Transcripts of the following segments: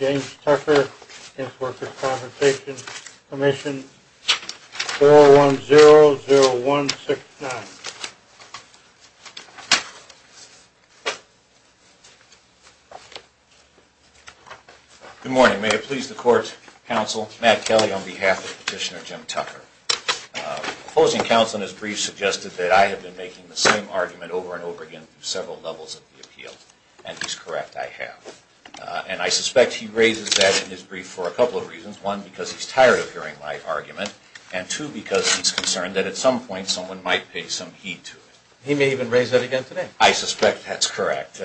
James Tucker, against Workers' Compensation Commission, 4100169. Good morning. May it please the Court, Counsel Matt Kelly on behalf of Petitioner Jim Tucker. The opposing counsel in his brief suggested that I have been making the same argument over and over again on several levels of the appeal. And he's correct, I have. And I suspect he raises that in his brief for a couple of reasons. One, because he's tired of hearing my argument. And two, because he's concerned that at some point someone might pay some heed to it. He may even raise that again today. I suspect that's correct.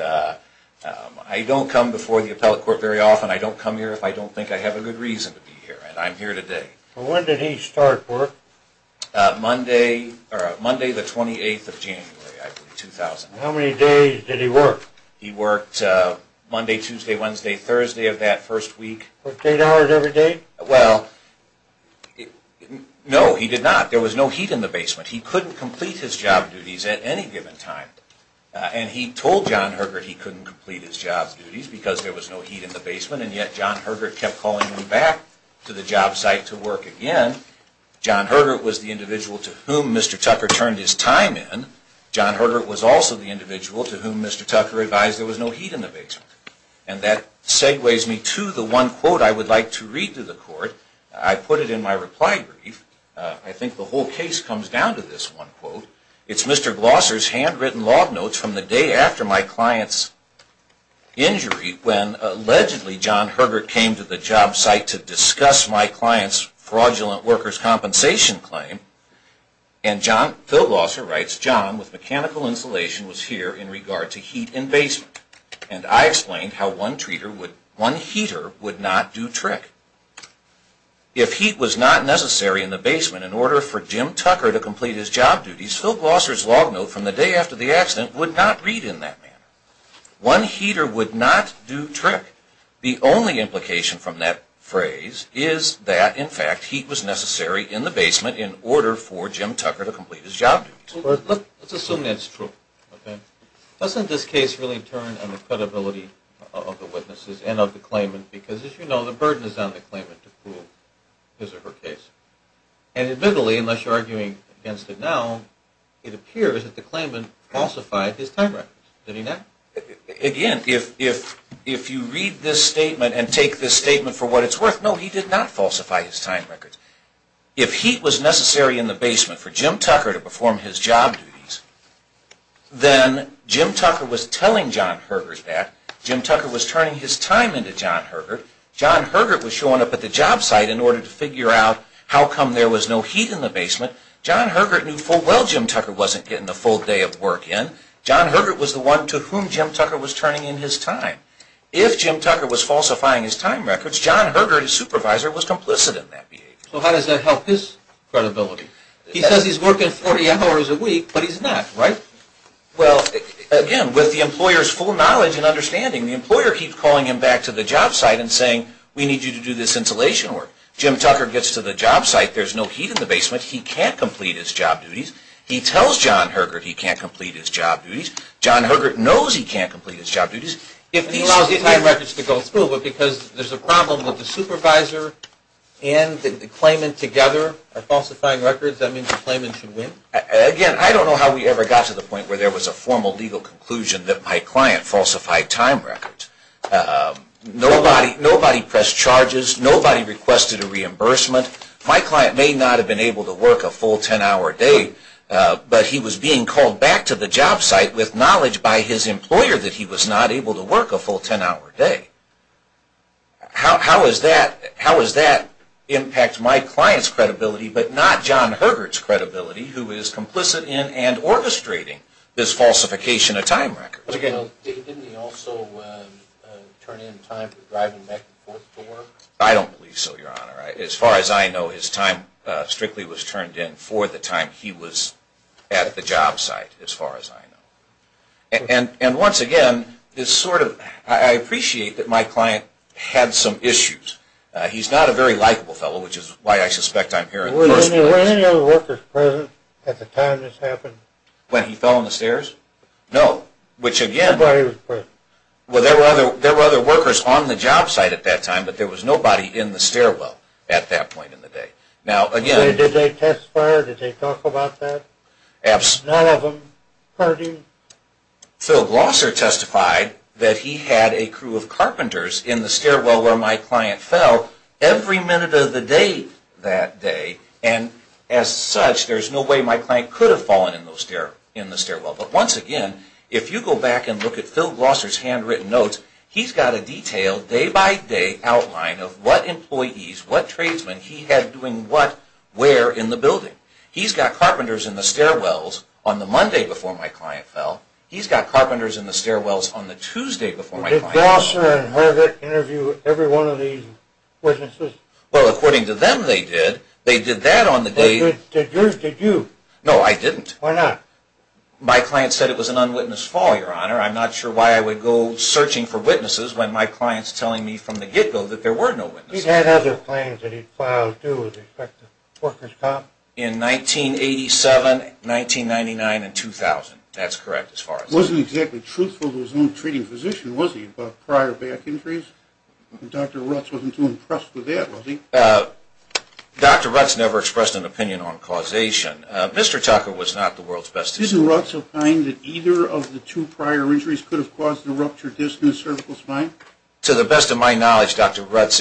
I don't come before the appellate court very often. I don't come here if I don't think I have a good reason to be here. And I'm here today. When did he start work? Monday, the 28th of January, I believe, 2000. How many days did he work? He worked Monday, Tuesday, Wednesday, Thursday of that first week. Fourteen hours every day? Well, no, he did not. There was no heat in the basement. He couldn't complete his job duties at any given time. And he told John Hergert he couldn't complete his job duties because there was no heat in the basement. And yet John Hergert kept calling him back to the job site to work again. John Hergert was the individual to whom Mr. Tucker turned his time in. John Hergert was also the individual to whom Mr. Tucker advised there was no heat in the basement. And that segues me to the one quote I would like to read to the court. I put it in my reply brief. I think the whole case comes down to this one quote. It's Mr. Glosser's handwritten log notes from the day after my client's injury when allegedly John Hergert came to the job site to discuss my client's fraudulent workers' compensation claim. And Phil Glosser writes, John, with mechanical insulation, was here in regard to heat in basement. And I explained how one heater would not do trick. If heat was not necessary in the basement in order for Jim Tucker to complete his job duties, Phil Glosser's log note from the day after the accident would not read in that manner. One heater would not do trick. The only implication from that phrase is that, in fact, heat was necessary in the basement in order for Jim Tucker to complete his job duties. Let's assume that's true. Doesn't this case really turn on the credibility of the witnesses and of the claimant? Because, as you know, the burden is on the claimant to prove his or her case. And admittedly, unless you're arguing against it now, it appears that the claimant falsified his time records, didn't he not? Again, if you read this statement and take this statement for what it's worth, no, he did not falsify his time records. If heat was necessary in the basement for Jim Tucker to perform his job duties, then Jim Tucker was telling John Hergert that. Jim Tucker was turning his time into John Hergert. John Hergert was showing up at the job site in order to figure out how come there was no heat in the basement. John Hergert knew full well Jim Tucker wasn't getting the full day of work in. John Hergert was the one to whom Jim Tucker was turning in his time. If Jim Tucker was falsifying his time records, John Hergert, his supervisor, was complicit in that behavior. So how does that help his credibility? He says he's working 40 hours a week, but he's not, right? Well, again, with the employer's full knowledge and understanding, the employer keeps calling him back to the job site and saying, we need you to do this insulation work. Jim Tucker gets to the job site, there's no heat in the basement, he can't complete his job duties. He tells John Hergert he can't complete his job duties. John Hergert knows he can't complete his job duties. If he allows the time records to go through, but because there's a problem with the supervisor and the claimant together, are falsifying records, that means the claimant should win? Again, I don't know how we ever got to the point where there was a formal legal conclusion that my client falsified time records. Nobody pressed charges, nobody requested a reimbursement. My client may not have been able to work a full 10-hour day, but he was being called back to the job site with knowledge by his employer that he was not able to work a full 10-hour day. How does that impact my client's credibility, but not John Hergert's credibility, who is complicit in and orchestrating this falsification of time records? Didn't he also turn in time for driving back and forth to work? I don't believe so, Your Honor. As far as I know, his time strictly was turned in for the time he was at the job site, as far as I know. And once again, I appreciate that my client had some issues. He's not a very likable fellow, which is why I suspect I'm here in the first place. Were any other workers present at the time this happened? When he fell on the stairs? No. Which again... Nobody was present. Well, there were other workers on the job site at that time, but there was nobody in the stairwell at that point in the day. Now, again... Did they testify or did they talk about that? None of them. Pardon? Phil Glosser testified that he had a crew of carpenters in the stairwell where my client fell every minute of the day that day, and as such, there's no way my client could have fallen in the stairwell. But once again, if you go back and look at Phil Glosser's handwritten notes, he's got a detailed day-by-day outline of what employees, what tradesmen, he had doing what, where in the building. He's got carpenters in the stairwells on the Monday before my client fell. He's got carpenters in the stairwells on the Tuesday before my client fell. Did Glosser and Harvick interview every one of these witnesses? Well, according to them, they did. They did that on the day... Did you? No, I didn't. Why not? My client said it was an unwitnessed fall, Your Honor. I'm not sure why I would go searching for witnesses when my client's telling me from the get-go that there were no witnesses. He'd had other claims that he'd filed, too, as expected. Worker's comp? In 1987, 1999, and 2000. That's correct, as far as I know. Wasn't exactly truthful to his own treating physician, was he, about prior back injuries? Dr. Rutz wasn't too impressed with that, was he? Dr. Rutz never expressed an opinion on causation. Mr. Tucker was not the world's best physician. Isn't Rutz of the mind that either of the two prior injuries could have caused a ruptured disc in the cervical spine? To the best of my knowledge, Dr. Rutz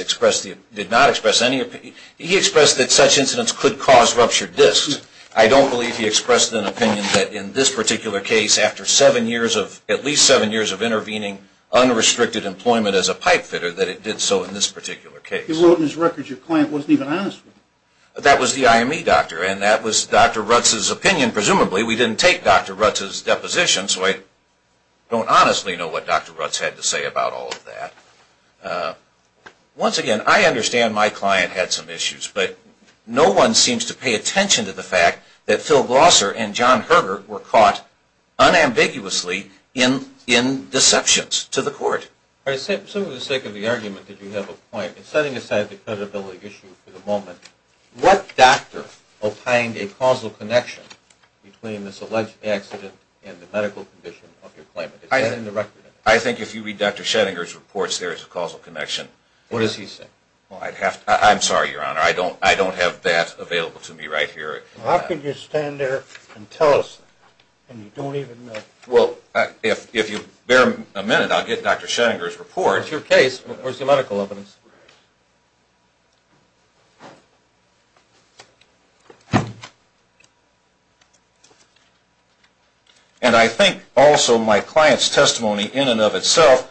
did not express any opinion. He expressed that such incidents could cause ruptured discs. I don't believe he expressed an opinion that in this particular case, after at least seven years of intervening unrestricted employment as a pipe fitter, that it did so in this particular case. He wrote in his records your client wasn't even honest with you. That was the IME doctor, and that was Dr. Rutz's opinion. Presumably we didn't take Dr. Rutz's deposition, so I don't honestly know what Dr. Rutz had to say about all of that. Once again, I understand my client had some issues, but no one seems to pay attention to the fact that Phil Glosser and John Herger were caught unambiguously in deceptions to the court. For the sake of the argument that you have a point, in setting aside the credibility issue for the moment, what doctor opined a causal connection between this alleged accident and the medical condition of your client? Is that in the record? I think if you read Dr. Schenninger's reports, there is a causal connection. What does he say? I'm sorry, Your Honor, I don't have that available to me right here. How can you stand there and tell us that, and you don't even know? Well, if you bear a minute, I'll get Dr. Schenninger's report. It's your case. Where's your medical evidence? And I think also my client's testimony in and of itself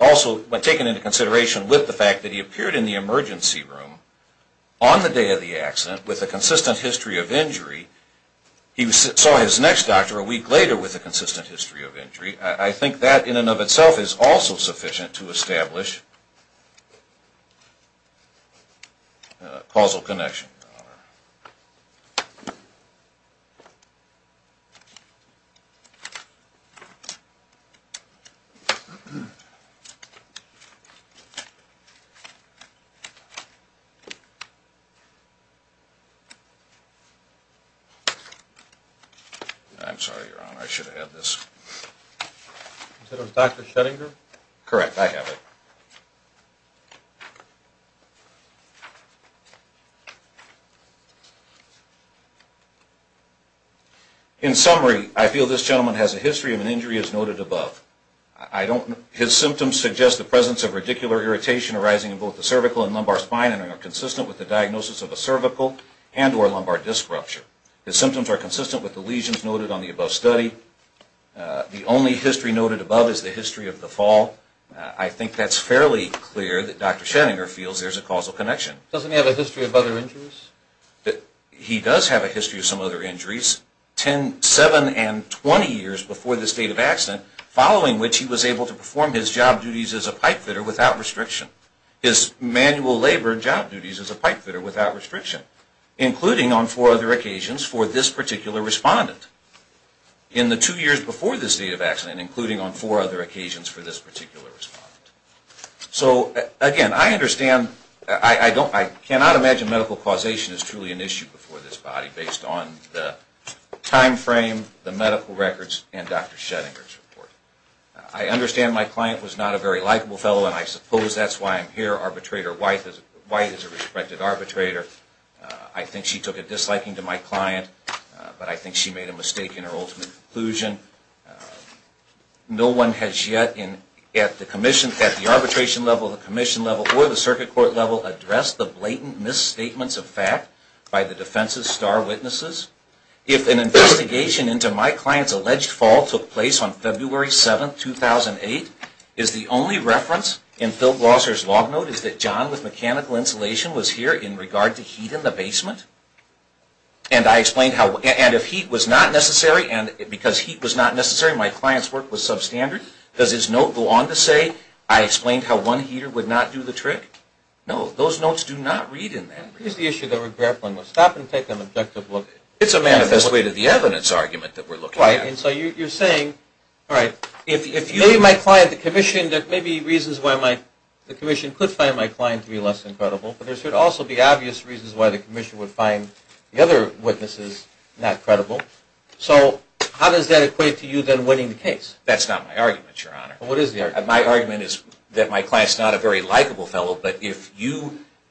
also, when taken into consideration with the fact that he appeared in the emergency room on the day of the accident with a consistent history of injury, he saw his next doctor a week later with a consistent history of injury. I think that in and of itself is also sufficient to establish a causal connection. Thank you, Your Honor. I'm sorry, Your Honor, I should have had this. Is that on Dr. Schenninger? Correct, I have it. In summary, I feel this gentleman has a history of an injury as noted above. His symptoms suggest the presence of radicular irritation arising in both the cervical and lumbar spine and are consistent with the diagnosis of a cervical and or lumbar disc rupture. His symptoms are consistent with the lesions noted on the above study. The only history noted above is the history of the fall. I think that's fairly clear that Dr. Schenninger feels there's a causal connection. Doesn't he have a history of other injuries? He does have a history of some other injuries. Seven and 20 years before the state of accident, following which he was able to perform his job duties as a pipe fitter without restriction. His manual labor job duties as a pipe fitter without restriction, including on four other occasions for this particular respondent. In the two years before the state of accident, including on four other occasions for this particular respondent. Again, I cannot imagine medical causation is truly an issue for this body based on the time frame, the medical records, and Dr. Schenninger's report. I understand my client was not a very likable fellow, and I suppose that's why I'm here. Arbitrator White is a respected arbitrator. I think she took a disliking to my client, but I think she made a mistake in her ultimate conclusion. No one has yet, at the arbitration level, the commission level, or the circuit court level, addressed the blatant misstatements of fact by the defense's star witnesses. If an investigation into my client's alleged fall took place on February 7, 2008, is the only reference in Phil Glosser's log note is that John, and I explained how, and if heat was not necessary, and because heat was not necessary, my client's work was substandard, does his note go on to say I explained how one heater would not do the trick? No, those notes do not read in that. Here's the issue that we're grappling with. Stop and take an objective look at it. It's a manifest way to the evidence argument that we're looking at. Right, and so you're saying, all right, maybe my client, the commission, there may be reasons why the commission could find my client to be less than credible, but there should also be obvious reasons why the commission would find the other witnesses not credible. So how does that equate to you then winning the case? That's not my argument, Your Honor. What is the argument? My argument is that my client's not a very likable fellow, but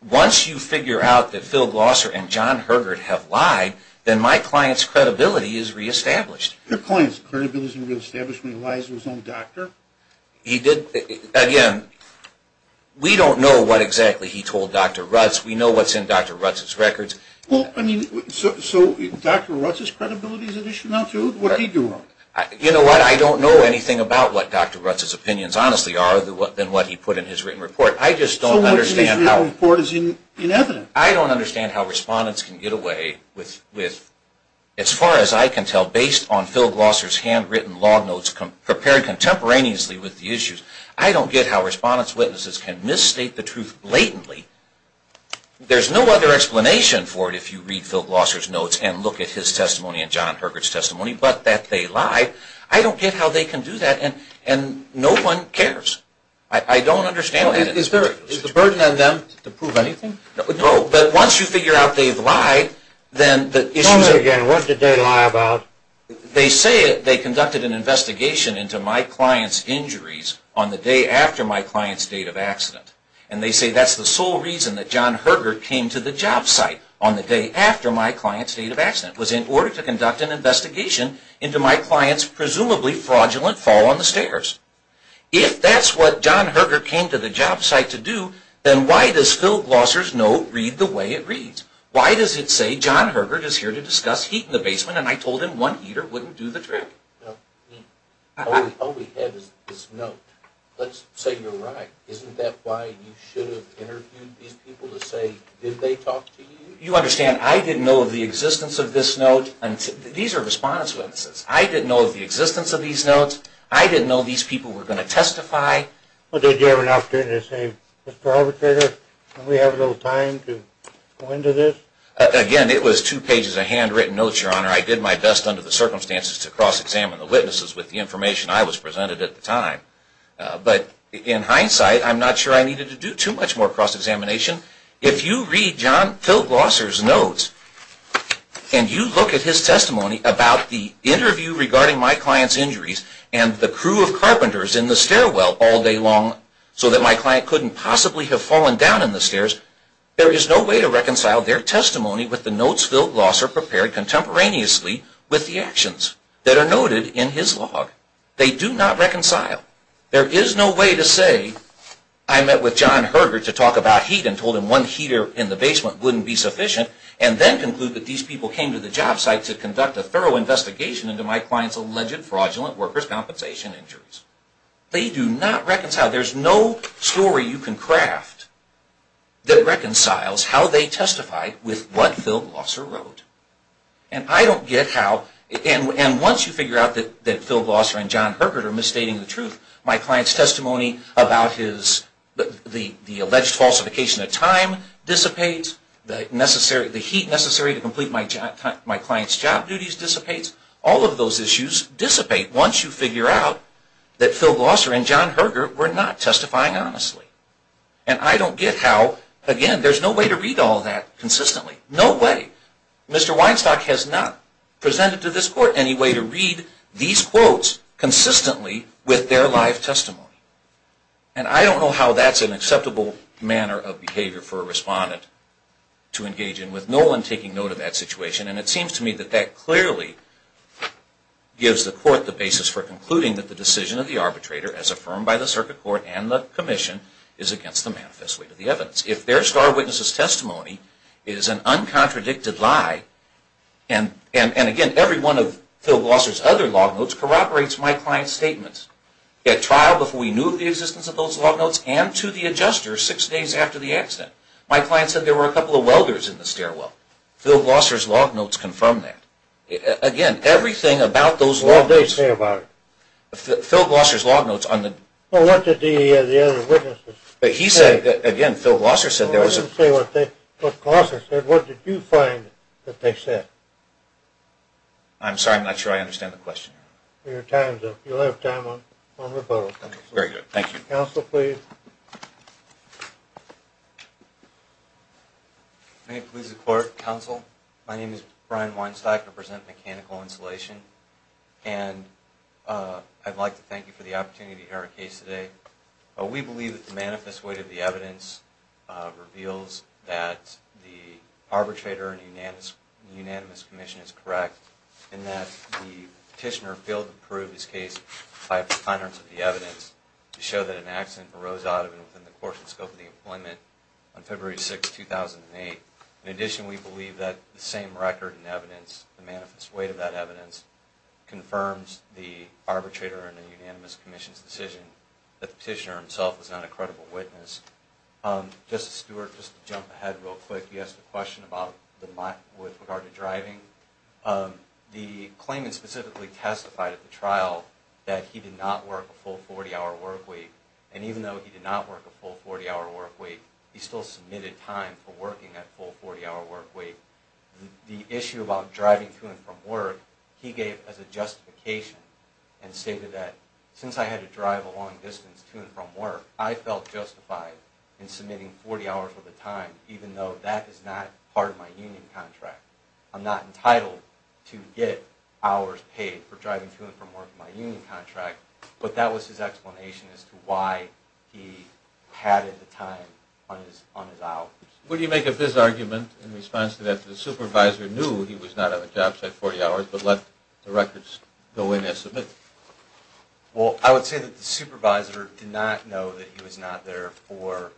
once you figure out that Phil Glosser and John Hergert have lied, then my client's credibility is reestablished. Your client's credibility is reestablished when he lies to his own doctor? He did. Again, we don't know what exactly he told Dr. Rutz. We know what's in Dr. Rutz's records. Well, I mean, so Dr. Rutz's credibility is an issue now too? What did he do wrong? You know what? I don't know anything about what Dr. Rutz's opinions honestly are than what he put in his written report. I just don't understand how. So much of his written report is in evidence. I don't understand how respondents can get away with, as far as I can tell, based on Phil Glosser's handwritten log notes prepared contemporaneously with the issues. I don't get how respondents' witnesses can misstate the truth blatantly. There's no other explanation for it if you read Phil Glosser's notes and look at his testimony and John Hergert's testimony, but that they lied. I don't get how they can do that, and no one cares. I don't understand that. Is there a burden on them to prove anything? No, but once you figure out they've lied, then the issues are clear. And what did they lie about? They say they conducted an investigation into my client's injuries on the day after my client's date of accident, and they say that's the sole reason that John Hergert came to the job site on the day after my client's date of accident, was in order to conduct an investigation into my client's presumably fraudulent fall on the stairs. If that's what John Hergert came to the job site to do, then why does Phil Glosser's note read the way it reads? Why does it say John Hergert is here to discuss heat in the basement and I told him one heater wouldn't do the trick? All we have is this note. Let's say you're right. Isn't that why you should have interviewed these people to say, did they talk to you? You understand, I didn't know of the existence of this note. These are respondents' witnesses. I didn't know of the existence of these notes. I didn't know these people were going to testify. Well, did you have an opportunity to say, Mr. Arbitrator, do we have a little time to go into this? Again, it was two pages of handwritten notes, Your Honor. I did my best under the circumstances to cross-examine the witnesses with the information I was presented at the time. But in hindsight, I'm not sure I needed to do too much more cross-examination. If you read Phil Glosser's notes and you look at his testimony about the interview regarding my client's injuries and the crew of carpenters in the stairwell all day long so that my client couldn't possibly have fallen down in the stairs, there is no way to reconcile their testimony with the notes Phil Glosser prepared contemporaneously with the actions that are noted in his log. They do not reconcile. There is no way to say, I met with John Herger to talk about heat and told him one heater in the basement wouldn't be sufficient and then conclude that these people came to the job site to conduct a thorough investigation into my client's alleged fraudulent workers' compensation injuries. They do not reconcile. There is no story you can craft that reconciles how they testified with what Phil Glosser wrote. And I don't get how, and once you figure out that Phil Glosser and John Herger are misstating the truth, my client's testimony about the alleged falsification of time dissipates, the heat necessary to complete my client's job duties dissipates, all of those issues dissipate once you figure out that Phil Glosser and John Herger were not testifying honestly. And I don't get how, again, there's no way to read all that consistently. No way. Mr. Weinstock has not presented to this court any way to read these quotes consistently with their live testimony. And I don't know how that's an acceptable manner of behavior for a respondent to engage in with no one taking note of that situation. And it seems to me that that clearly gives the court the basis for concluding that the decision of the arbitrator, as affirmed by the circuit court and the commission, is against the manifest weight of the evidence. If their star witness's testimony is an uncontradicted lie, and again, every one of Phil Glosser's other log notes corroborates my client's statements. At trial, before we knew of the existence of those log notes, and to the adjuster six days after the accident, my client said there were a couple of welders in the stairwell. Phil Glosser's log notes confirm that. Again, everything about those log notes. What did they say about it? Phil Glosser's log notes on the... Well, what did the other witnesses say? He said, again, Phil Glosser said there was a... Well, I didn't say what Glosser said. What did you find that they said? I'm sorry, I'm not sure I understand the question. Your time's up. You'll have time on rebuttal. Very good. Thank you. Counsel, please. May it please the Court, Counsel, my name is Brian Weinstein. I represent Mechanical Insulation, and I'd like to thank you for the opportunity to hear our case today. We believe that the manifest weight of the evidence reveals that the arbitrator in the unanimous commission is correct, and that the petitioner failed to prove his case to show that an accident arose out of the blue. It arose out of and within the course and scope of the employment on February 6, 2008. In addition, we believe that the same record and evidence, the manifest weight of that evidence, confirms the arbitrator in the unanimous commission's decision that the petitioner himself is not a credible witness. Justice Stewart, just to jump ahead real quick, you asked a question with regard to driving. The claimant specifically testified at the trial that he did not work a full 40-hour work week, and even though he did not work a full 40-hour work week, he still submitted time for working that full 40-hour work week. The issue about driving to and from work, he gave as a justification and stated that, since I had to drive a long distance to and from work, I felt justified in submitting 40 hours worth of time, even though that is not part of my union contract. I'm not entitled to get hours paid for driving to and from work in my union contract. But that was his explanation as to why he padded the time on his hours. What do you make of this argument in response to that, that the supervisor knew he was not on the job site 40 hours, but let the records go in as submitted? Well, I would say that the supervisor did not know that he was not there for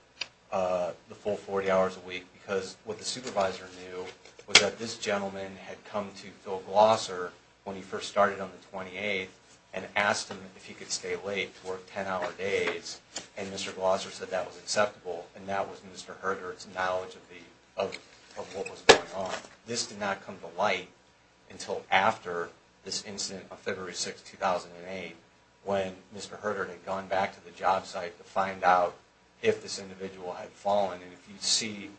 the full 40 hours a week, because what the supervisor knew was that this gentleman had come to Phil and asked him if he could stay late to work 10-hour days, and Mr. Glosser said that was acceptable, and that was Mr. Herdert's knowledge of what was going on. This did not come to light until after this incident of February 6, 2008, when Mr. Herdert had gone back to the job site to find out if this individual had fallen. And if you see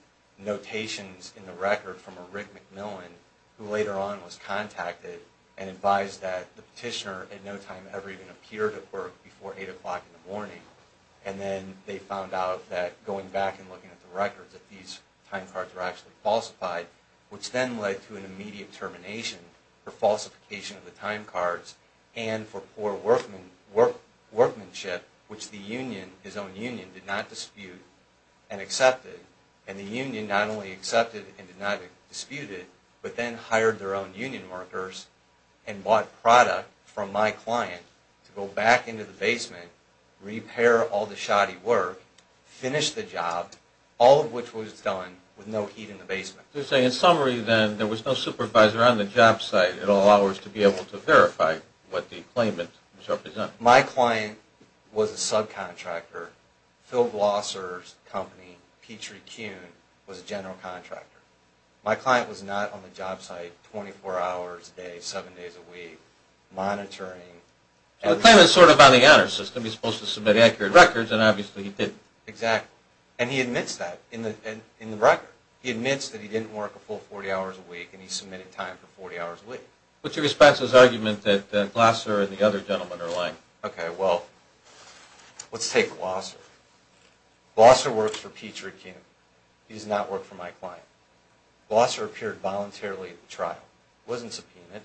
notations in the record from a Rick McMillan, who later on was contacted and advised that the petitioner at no time ever even appeared at work before 8 o'clock in the morning. And then they found out that going back and looking at the records, that these time cards were actually falsified, which then led to an immediate termination for falsification of the time cards and for poor workmanship, which the union, his own union, did not dispute and accepted. And the union not only accepted and did not dispute it, but then hired their own union workers and bought product from my client to go back into the basement, repair all the shoddy work, finish the job, all of which was done with no heat in the basement. So you're saying in summary then there was no supervisor on the job site at all hours to be able to verify what the claimant was representing. My client was a subcontractor. Phil Glosser's company, Petrie-Kuhn, was a general contractor. My client was not on the job site 24 hours a day, 7 days a week, monitoring... So the claimant's sort of on the honor system. He's supposed to submit accurate records, and obviously he didn't. Exactly. And he admits that in the record. He admits that he didn't work a full 40 hours a week, and he submitted time for 40 hours a week. What's your response to his argument that Glosser and the other gentleman are lying? Okay, well, let's take Glosser. Glosser works for Petrie-Kuhn. He does not work for my client. Glosser appeared voluntarily at the trial. It wasn't subpoenaed.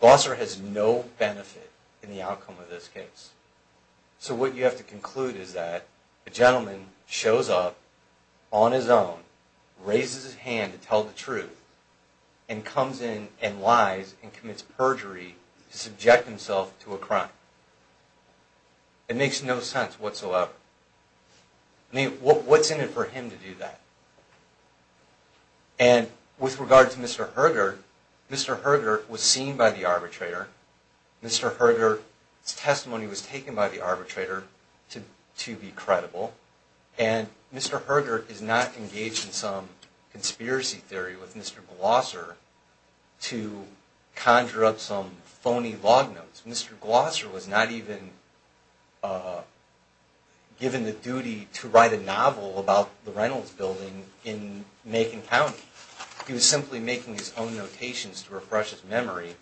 Glosser has no benefit in the outcome of this case. So what you have to conclude is that the gentleman shows up on his own, raises his hand to tell the truth, and comes in and lies and commits perjury to subject himself to a crime. It makes no sense whatsoever. I mean, what's in it for him to do that? And with regard to Mr. Herger, Mr. Herger was seen by the arbitrator. Mr. Herger's testimony was taken by the arbitrator to be credible. And Mr. Herger is not engaged in some conspiracy theory with Mr. Glosser to conjure up some phony log notes. Mr. Glosser was not even given the duty to write a novel about the Reynolds Building in Macon County. He was simply making his own notations to refresh his memory,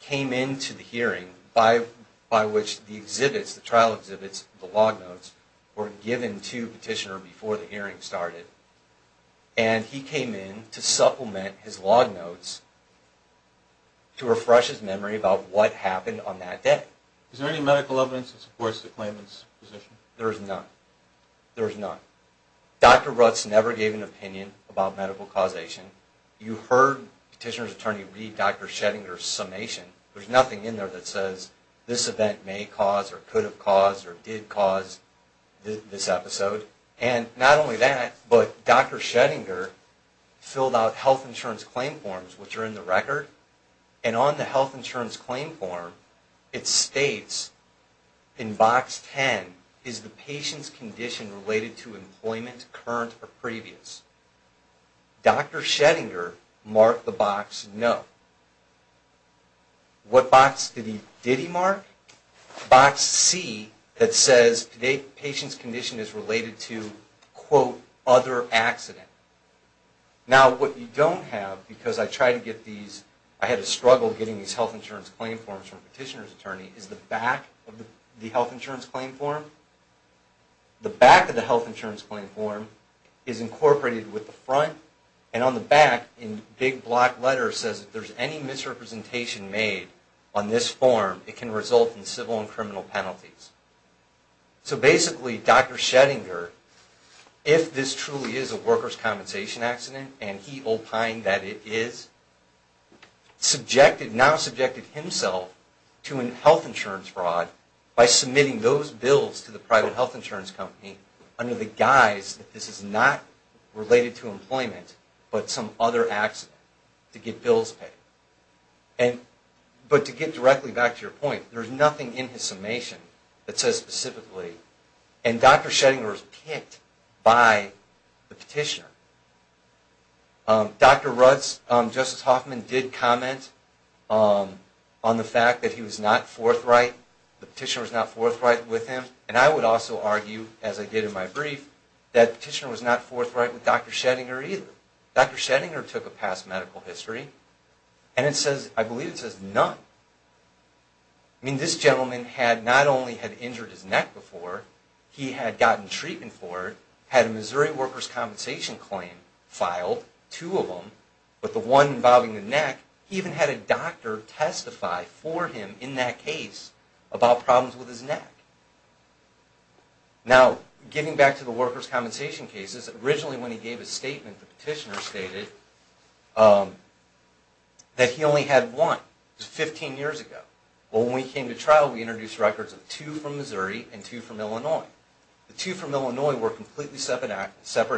came into the hearing by which the exhibits, the trial exhibits, the log notes, were given to Petitioner before the hearing started, and he came in to supplement his log notes to refresh his memory about what happened on that day. Is there any medical evidence that supports the claimant's position? There is none. There is none. Dr. Rutz never gave an opinion about medical causation. You heard Petitioner's attorney read Dr. Schettinger's summation. There's nothing in there that says this event may cause or could have caused or did cause this episode. And not only that, but Dr. Schettinger filled out health insurance claim forms, which are in the record. And on the health insurance claim form, it states in box 10, is the patient's condition related to employment, current or previous? Dr. Schettinger marked the box no. What box did he mark? Box C that says patient's condition is related to, quote, other accident. Now, what you don't have, because I had a struggle getting these health insurance claim forms from Petitioner's attorney, is the back of the health insurance claim form. The back of the health insurance claim form is incorporated with the front, and on the back, in big black letters, says if there's any misrepresentation made on this form, it can result in civil and criminal penalties. So basically, Dr. Schettinger, if this truly is a workers' compensation accident, and he opined that it is, now subjected himself to a health insurance fraud by submitting those bills to the private health insurance company under the guise that this is not related to employment, but some other accident to get bills paid. But to get directly back to your point, there's nothing in his summation that says specifically, and Dr. Schettinger was picked by the Petitioner. Dr. Rutz, Justice Hoffman, did comment on the fact that he was not forthright, the Petitioner was not forthright with him, and I would also argue, as I did in my brief, that the Petitioner was not forthright with Dr. Schettinger either. Dr. Schettinger took a past medical history, and it says, I believe it says, none. I mean, this gentleman had not only had injured his neck before, he had gotten treatment for it, had a Missouri workers' compensation claim filed, two of them, but the one involving the neck, he even had a doctor testify for him in that case about problems with his neck. Now, getting back to the workers' compensation cases, originally when he gave his statement, the Petitioner stated that he only had one. It was 15 years ago. Well, when we came to trial, we introduced records of two from Missouri and two from Illinois. The two from Illinois were completely separate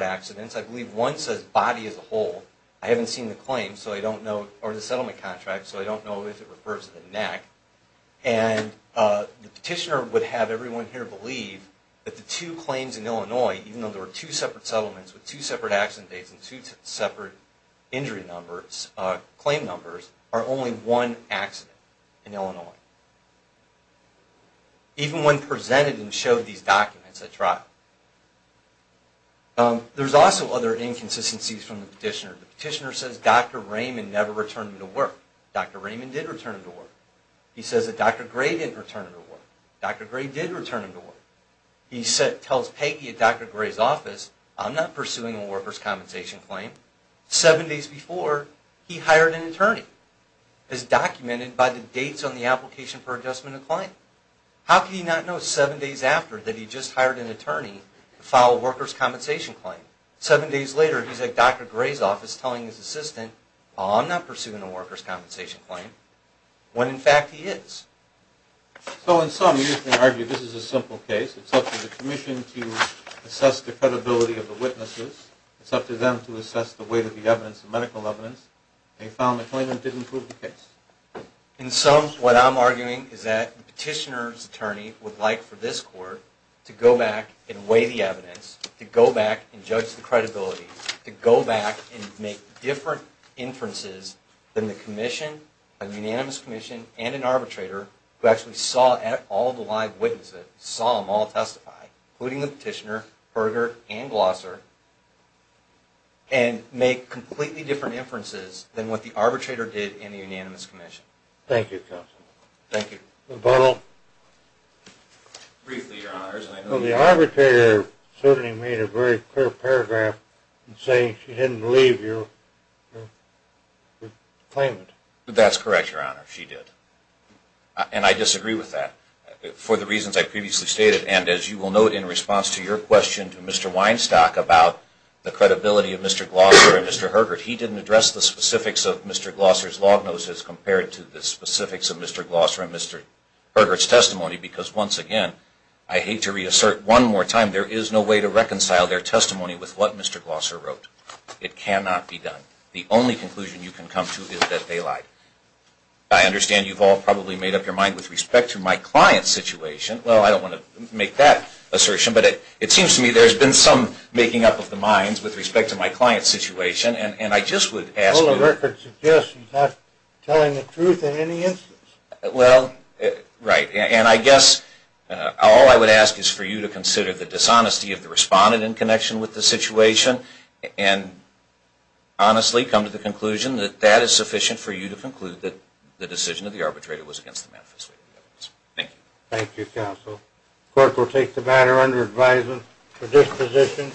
accidents. I believe one says body as a whole. I haven't seen the claim, or the settlement contract, so I don't know if it refers to the neck. And the Petitioner would have everyone here believe that the two claims in Illinois, even though there were two separate settlements with two separate accident dates and two separate injury numbers, claim numbers, are only one accident in Illinois. Even when presented and showed these documents at trial. There's also other inconsistencies from the Petitioner. The Petitioner says Dr. Raymond never returned him to work. Dr. Raymond did return him to work. He says that Dr. Gray didn't return him to work. Dr. Gray did return him to work. He tells Peggy at Dr. Gray's office, I'm not pursuing a workers' compensation claim. Seven days before, he hired an attorney, as documented by the dates on the application for adjustment of claim. How could he not know seven days after that he just hired an attorney to file a workers' compensation claim? Seven days later, he's at Dr. Gray's office telling his assistant, I'm not pursuing a workers' compensation claim, when in fact he is. So in sum, you can argue this is a simple case. It's up to the Commission to assess the credibility of the witnesses. It's up to them to assess the weight of the evidence, the medical evidence. They filed the claim and didn't prove the case. In sum, what I'm arguing is that the Petitioner's attorney would like for this court to go back and weigh the evidence, to go back and judge the credibility, to go back and make different inferences than the Commission, the Unanimous Commission, and an arbitrator, who actually saw all the live witnesses, saw them all testify, including the Petitioner, Berger, and Glosser, and make completely different inferences than what the arbitrator did in the Unanimous Commission. Thank you, counsel. Thank you. Briefly, Your Honors. Well, the arbitrator certainly made a very clear paragraph in saying she didn't believe your claimant. That's correct, Your Honor. She did. And I disagree with that for the reasons I previously stated. And as you will note in response to your question to Mr. Weinstock about the credibility of Mr. Glosser and Mr. Herbert, he didn't address the specifics of Mr. Glosser's lognosis compared to the specifics of Mr. Glosser and Mr. Herbert's testimony, because once again, I hate to reassert one more time, there is no way to reconcile their testimony with what Mr. Glosser wrote. It cannot be done. The only conclusion you can come to is that they lied. I understand you've all probably made up your mind with respect to my client's situation. Well, I don't want to make that assertion, but it seems to me there's been some making up of the minds with respect to my client's situation, and I just would ask... The record suggests he's not telling the truth in any instance. Well, right. And I guess all I would ask is for you to consider the dishonesty of the respondent in connection with the situation and honestly come to the conclusion that that is sufficient for you to conclude that the decision of the arbitrator was against the manifesto. Thank you. Thank you, counsel. The court will take the matter under advisement for disposition.